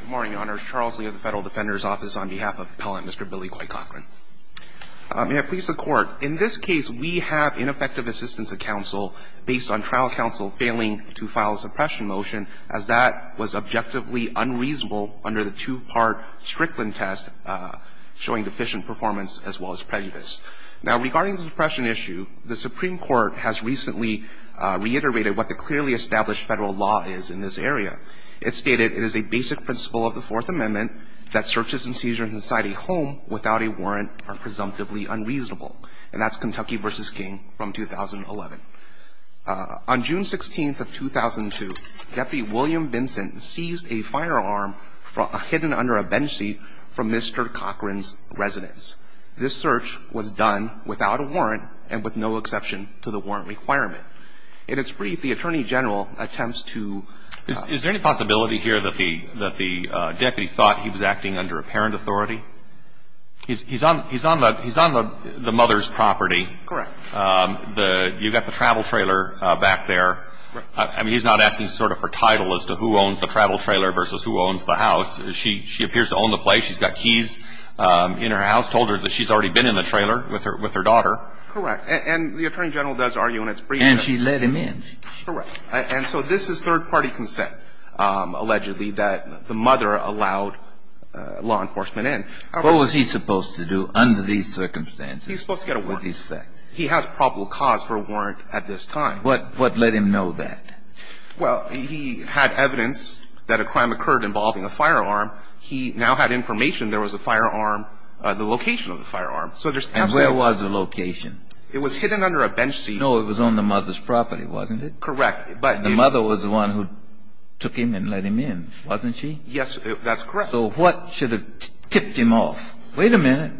Good morning, Your Honors. Charles Lee of the Federal Defender's Office on behalf of Appellant Mr. Billy Clay Cochran. May it please the Court, in this case we have ineffective assistance of counsel based on trial counsel failing to file a suppression motion as that was objectively unreasonable under the two-part Strickland test showing deficient performance as well as prejudice. Now regarding the suppression issue, the Supreme Court has recently reiterated what the clearly established Federal law is in this area. It stated it is a basic principle of the Fourth Amendment that searches and seizures inside a home without a warrant are presumptively unreasonable. And that's Kentucky v. King from 2011. On June 16th of 2002, Deputy William Vincent seized a firearm hidden under a bench seat from Mr. Cochran's residence. This search was done without a warrant and with no exception to the warrant requirement. In its brief, the Attorney General attempts to – Is there any possibility here that the deputy thought he was acting under a parent authority? He's on the mother's property. Correct. You've got the travel trailer back there. I mean, he's not asking sort of for title as to who owns the travel trailer versus who owns the house. She appears to own the place. She's got keys in her house, told her that she's already been in the trailer with her daughter. Correct. And the Attorney General does argue in its brief that – And she let him in. Correct. And so this is third-party consent, allegedly, that the mother allowed law enforcement in. What was he supposed to do under these circumstances? He's supposed to get a warrant. He has probable cause for a warrant at this time. But what let him know that? Well, he had evidence that a crime occurred involving a firearm. He now had information there was a firearm, the location of the firearm. So there's absolutely – And where was the location? It was hidden under a bench seat. No, it was on the mother's property, wasn't it? Correct. But – The mother was the one who took him and let him in, wasn't she? Yes, that's correct. So what should have tipped him off? Wait a minute.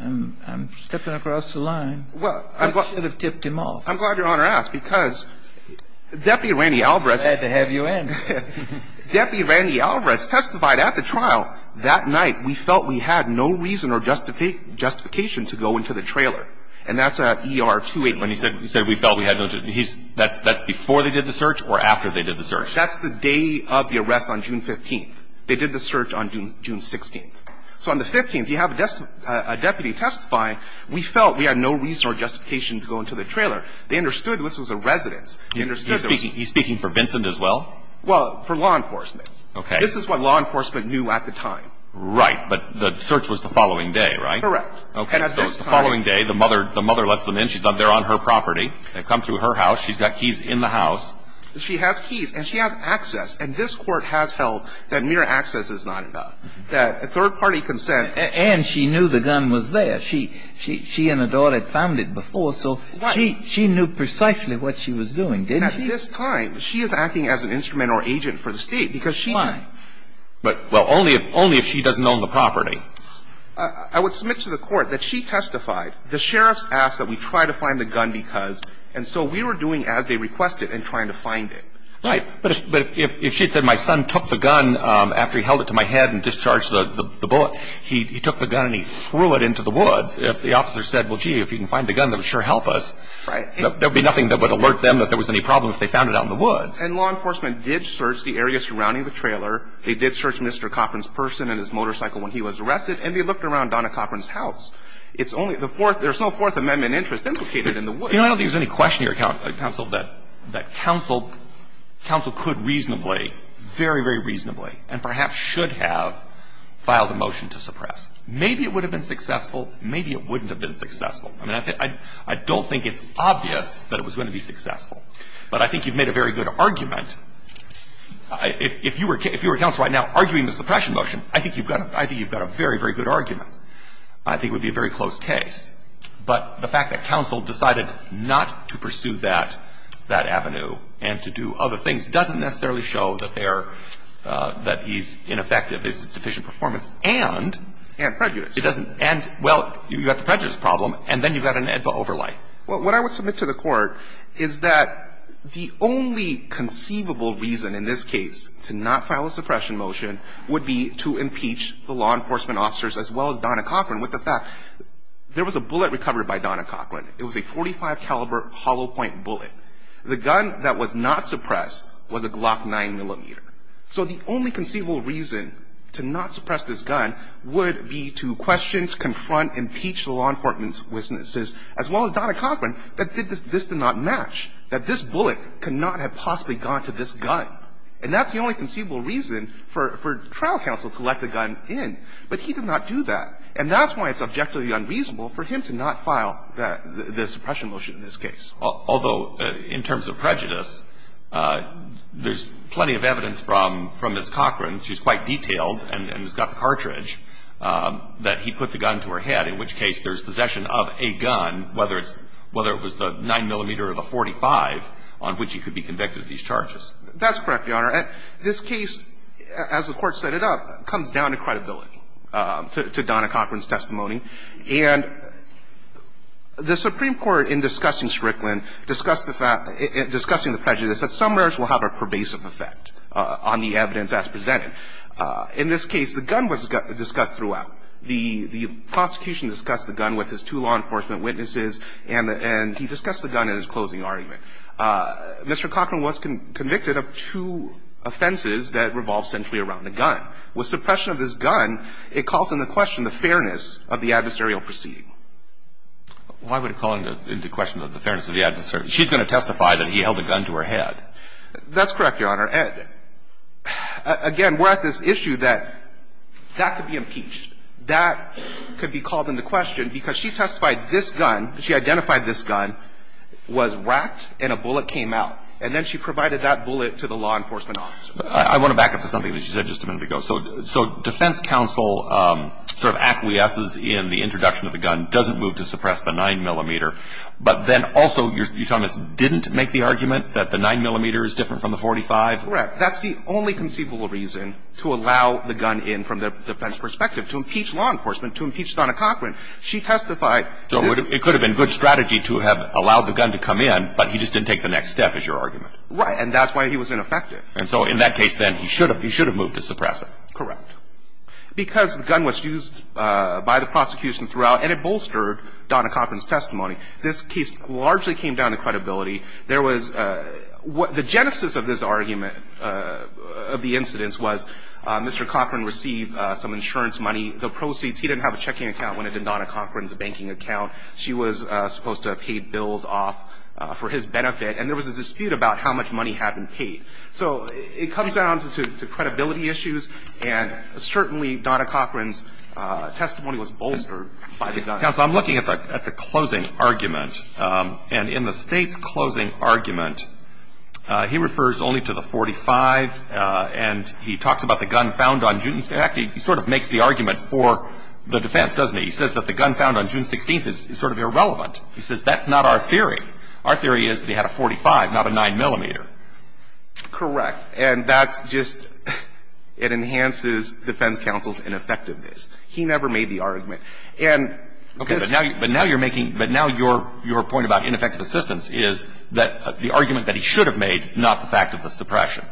I'm stepping across the line. What should have tipped him off? I'm glad Your Honor asked, because Deputy Randy Alvarez – I had to have you answer. Deputy Randy Alvarez testified at the trial. He said he had no reason or justification to go into the trailer. Now, that night, we felt we had no reason or justification to go into the trailer. And that's at ER-281. He said we felt we had no – that's before they did the search or after they did the search? That's the day of the arrest on June 15th. They did the search on June 16th. So on the 15th, you have a deputy testify. We felt we had no reason or justification to go into the trailer. They understood this was a residence. They understood there was – He's speaking for Vincent as well? Well, for law enforcement. Okay. This is what law enforcement knew at the time. Right. But the search was the following day, right? Correct. Okay. So it was the following day. The mother lets them in. They're on her property. They've come through her house. She's got keys in the house. She has keys. And she has access. And this Court has held that mere access is not enough, that third-party consent And she knew the gun was there. She and her daughter had found it before, so she knew precisely what she was doing, didn't she? At this time, she is acting as an instrument or agent for the State because she Why? Well, only if she doesn't own the property. I would submit to the Court that she testified. The sheriffs asked that we try to find the gun because, and so we were doing as they requested in trying to find it. Right. But if she had said, my son took the gun after he held it to my head and discharged the bullet, he took the gun and he threw it into the woods. If the officer said, well, gee, if you can find the gun, that would sure help us. Right. There would be nothing that would alert them that there was any problem if they found it out in the woods. And law enforcement did search the area surrounding the trailer. They did search Mr. Cochran's person and his motorcycle when he was arrested. And they looked around Donna Cochran's house. It's only the fourth. There's no Fourth Amendment interest implicated in the woods. But, you know, I don't think there's any question here, Counsel, that Counsel could reasonably, very, very reasonably and perhaps should have filed a motion to suppress. Maybe it would have been successful. Maybe it wouldn't have been successful. I mean, I don't think it's obvious that it was going to be successful. But I think you've made a very good argument. If you were Counsel right now arguing the suppression motion, I think you've got a very, very good argument. I think it would be a very close case. But the fact that Counsel decided not to pursue that, that avenue, and to do other things doesn't necessarily show that there, that he's ineffective, his deficient performance, and. And prejudice. It doesn't. And, well, you've got the prejudice problem, and then you've got an AEDPA overlay. Well, what I would submit to the Court is that the only conceivable reason in this case to not file a suppression motion would be to impeach the law enforcement officers, as well as Donna Cochran, with the fact there was a bullet recovered by Donna Cochran. It was a .45 caliber hollow point bullet. The gun that was not suppressed was a Glock 9mm. So the only conceivable reason to not suppress this gun would be to question, confront, impeach the law enforcement's witnesses, as well as Donna Cochran, that this did not match, that this bullet could not have possibly gone to this gun. And that's the only conceivable reason for trial counsel to let the gun in. But he did not do that. And that's why it's objectively unreasonable for him to not file the suppression motion in this case. Although, in terms of prejudice, there's plenty of evidence from Ms. Cochran, she's quite detailed and has got the cartridge, that he put the gun to her head, in which case there's possession of a gun, whether it's, whether it was the 9mm or the .45, on which he could be convicted of these charges. That's correct, Your Honor. This case, as the Court set it up, comes down to credibility, to Donna Cochran's testimony. And the Supreme Court, in discussing Strickland, discussed the fact, discussing the prejudice that some merits will have a pervasive effect on the evidence as presented. In this case, the gun was discussed throughout. The prosecution discussed the gun with his two law enforcement witnesses, and he discussed the gun in his closing argument. Mr. Cochran was convicted of two offenses that revolved centrally around the gun. With suppression of this gun, it calls into question the fairness of the adversarial proceeding. Why would it call into question the fairness of the adversarial? She's going to testify that he held a gun to her head. That's correct, Your Honor. Again, we're at this issue that that could be impeached. That could be called into question because she testified this gun, she identified this gun, was whacked, and a bullet came out. And then she provided that bullet to the law enforcement officer. I want to back up to something that she said just a minute ago. So defense counsel sort of acquiesces in the introduction of the gun, doesn't move to suppress the 9-millimeter. But then also, you're telling us, didn't make the argument that the 9-millimeter is different from the 45? Correct. That's the only conceivable reason to allow the gun in from the defense perspective, to impeach law enforcement, to impeach Donna Cochran. She testified that the 9-millimeter is different from the 45. So it could have been good strategy to have allowed the gun to come in, but he just didn't take the next step, is your argument. Right. And that's why he was ineffective. And so in that case, then, he should have moved to suppress it. Correct. Because the gun was used by the prosecution throughout, and it bolstered Donna Cochran's testimony. This case largely came down to credibility. There was the genesis of this argument of the incidents was Mr. Cochran received some insurance money. The proceeds, he didn't have a checking account when it did Donna Cochran's banking account. She was supposed to have paid bills off for his benefit. And there was a dispute about how much money had been paid. So it comes down to credibility issues, and certainly Donna Cochran's testimony was bolstered by the gun. Counsel, I'm looking at the closing argument. And in the State's closing argument, he refers only to the 45, and he talks about the gun found on June 5th. In fact, he sort of makes the argument for the defense, doesn't he? He says that the gun found on June 16th is sort of irrelevant. He says that's not our theory. Our theory is that he had a 45, not a 9-millimeter. Correct. And that's just – it enhances defense counsel's ineffectiveness. He never made the argument. And this – Okay. But now you're making – but now your point about ineffective assistance is that the argument that he should have made, not the fact of the suppression.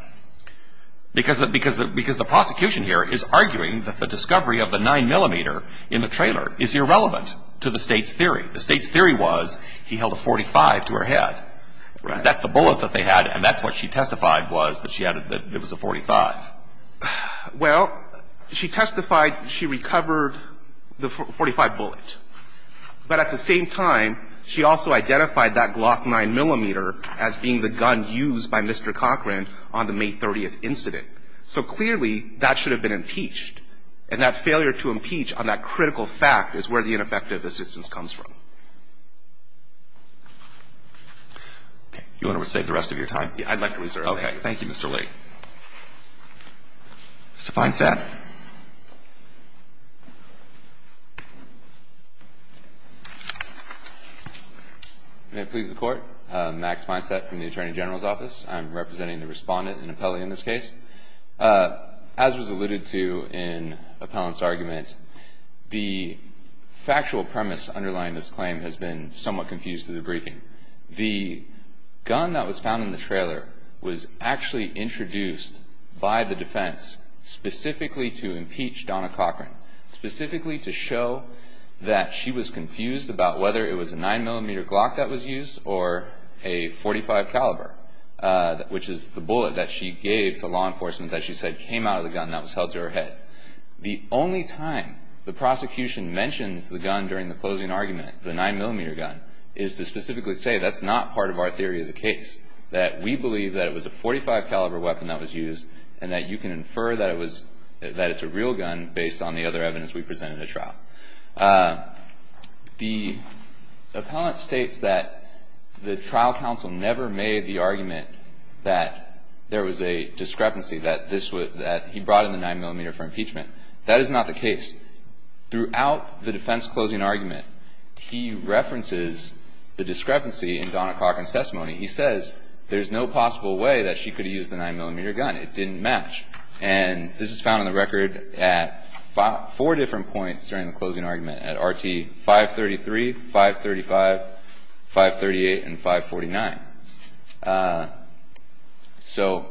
Because the prosecution here is arguing that the discovery of the 9-millimeter in the trailer is irrelevant to the State's theory. The State's theory was he held a 45 to her head. Right. Because that's the bullet that they had, and that's what she testified was, that she had – that it was a 45. Well, she testified she recovered the 45 bullet. But at the same time, she also identified that Glock 9-millimeter as being the gun used by Mr. Cochran on the May 30th incident. So clearly, that should have been impeached. And that failure to impeach on that critical fact is where the ineffective assistance comes from. Okay. You want to save the rest of your time? Yeah, I'd like to reserve that. Okay. Thank you, Mr. Lee. Mr. Feinstadt. May it please the Court. Max Feinstadt from the Attorney General's Office. I'm representing the respondent and appellee in this case. As was alluded to in Appellant's argument, the factual premise underlying this claim has been somewhat confused through the briefing. The gun that was found in the trailer was actually introduced by the defense specifically to impeach Donna Cochran, specifically to show that she was confused about whether it was a 9-millimeter Glock that was used or a .45 caliber, which is the bullet that she gave to law enforcement that she said came out of the gun that was held to her head. The only time the prosecution mentions the gun during the closing argument, the 9-millimeter gun, is to specifically say that's not part of our theory of the case, that we believe that it was a .45 caliber weapon that was used, and that you can infer that it's a real gun based on the other evidence we presented at trial. The appellant states that the trial counsel never made the argument that there was a discrepancy, that he brought in the 9-millimeter for impeachment. That is not the case. Throughout the defense closing argument, he references the discrepancy in Donna Cochran's testimony. He says there's no possible way that she could have used the 9-millimeter gun. It didn't match. And this is found in the record at four different points during the closing argument at RT 533, 535, 538, and 549. So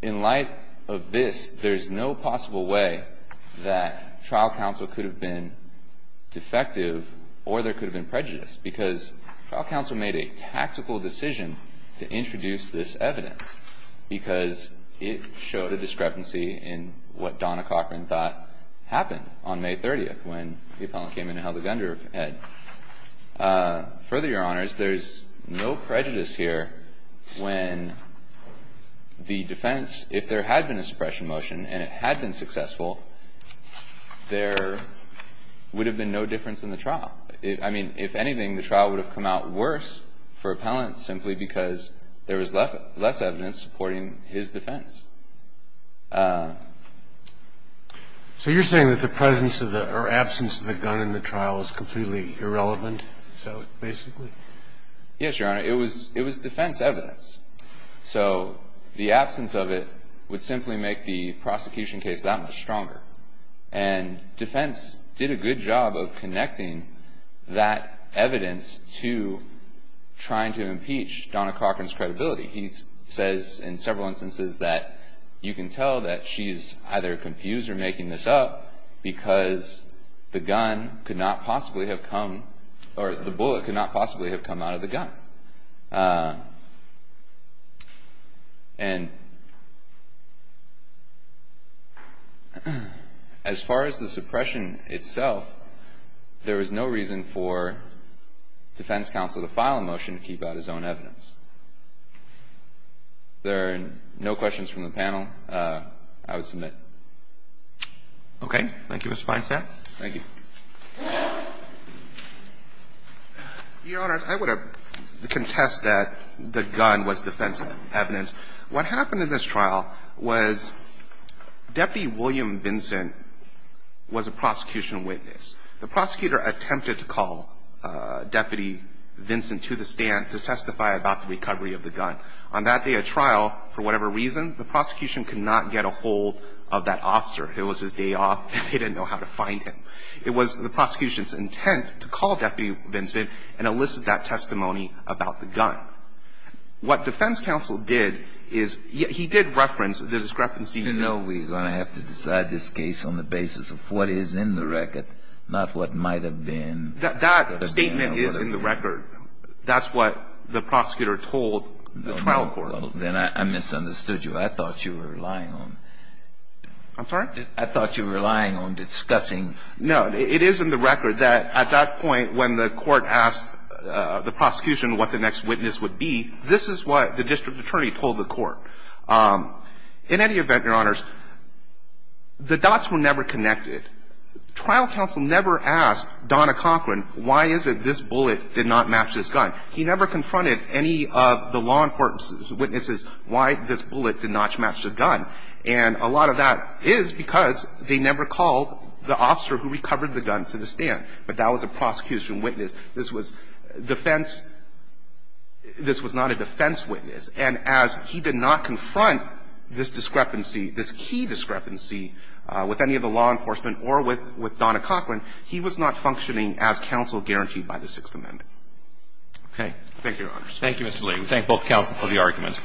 in light of this, there's no possible way that trial counsel could have been defective or there could have been prejudice, because trial counsel made a tactical decision to introduce this evidence because it showed a discrepancy in what Donna Cochran thought happened on May 30 when the appellant came in and held the gun to her head. Further, Your Honors, there's no prejudice here when the defense, if there had been a suppression motion and it had been successful, there would have been no difference in the trial. I mean, if anything, the trial would have come out worse for appellant simply because there was less evidence supporting his defense. So you're saying that the presence of the or absence of the gun in the trial is completely irrelevant, so basically? Yes, Your Honor. It was defense evidence. So the absence of it would simply make the prosecution case that much stronger. And defense did a good job of connecting that evidence to trying to impeach Donna Cochran's credibility. He says in several instances that you can tell that she's either confused or making this up because the gun could not possibly have come or the bullet could not possibly have come out of the gun. And as far as the suppression itself, there was no reason for defense counsel to file a motion to keep out his own evidence. There are no questions from the panel. I would submit. Okay. Thank you, Mr. Feinstein. Thank you. Your Honor, I would contest that the gun was defense evidence. What happened in this trial was Deputy William Vincent was a prosecution witness. The prosecutor attempted to call Deputy Vincent to the stand to testify about the recovery of the gun. On that day of trial, for whatever reason, the prosecution could not get a hold of that officer. It was his day off. They didn't know how to find him. It was the prosecution's intent to call Deputy Vincent and elicit that testimony about the gun. What defense counsel did is he did reference the discrepancy. He did not consider the fact that Deputy Vincent was a prosecutor. He did not consider Deputy Vincent a prosecutor. And if you know we're going to have to decide this case on the basis of what is in the record, not what might have been or could have been or whatever. That statement is in the record. That's what the prosecutor told the trial court. Then I misunderstood you. I thought you were relying on. I'm sorry? I thought you were relying on discussing. No. It is in the record that at that point when the court asked the prosecution what the next witness would be, this is what the district attorney told the court. In any event, Your Honors, the dots were never connected. Trial counsel never asked Donna Cochran why is it this bullet did not match this gun. He never confronted any of the law enforcement witnesses why this bullet did not match the gun. And a lot of that is because they never called the officer who recovered the gun to the stand. But that was a prosecution witness. This was defense. This was not a defense witness. And as he did not confront this discrepancy, this key discrepancy with any of the law enforcement or with Donna Cochran, he was not functioning as counsel guaranteed by the Sixth Amendment. Okay. Thank you, Your Honors. Thank you, Mr. Lee. We thank both counsel for the argument.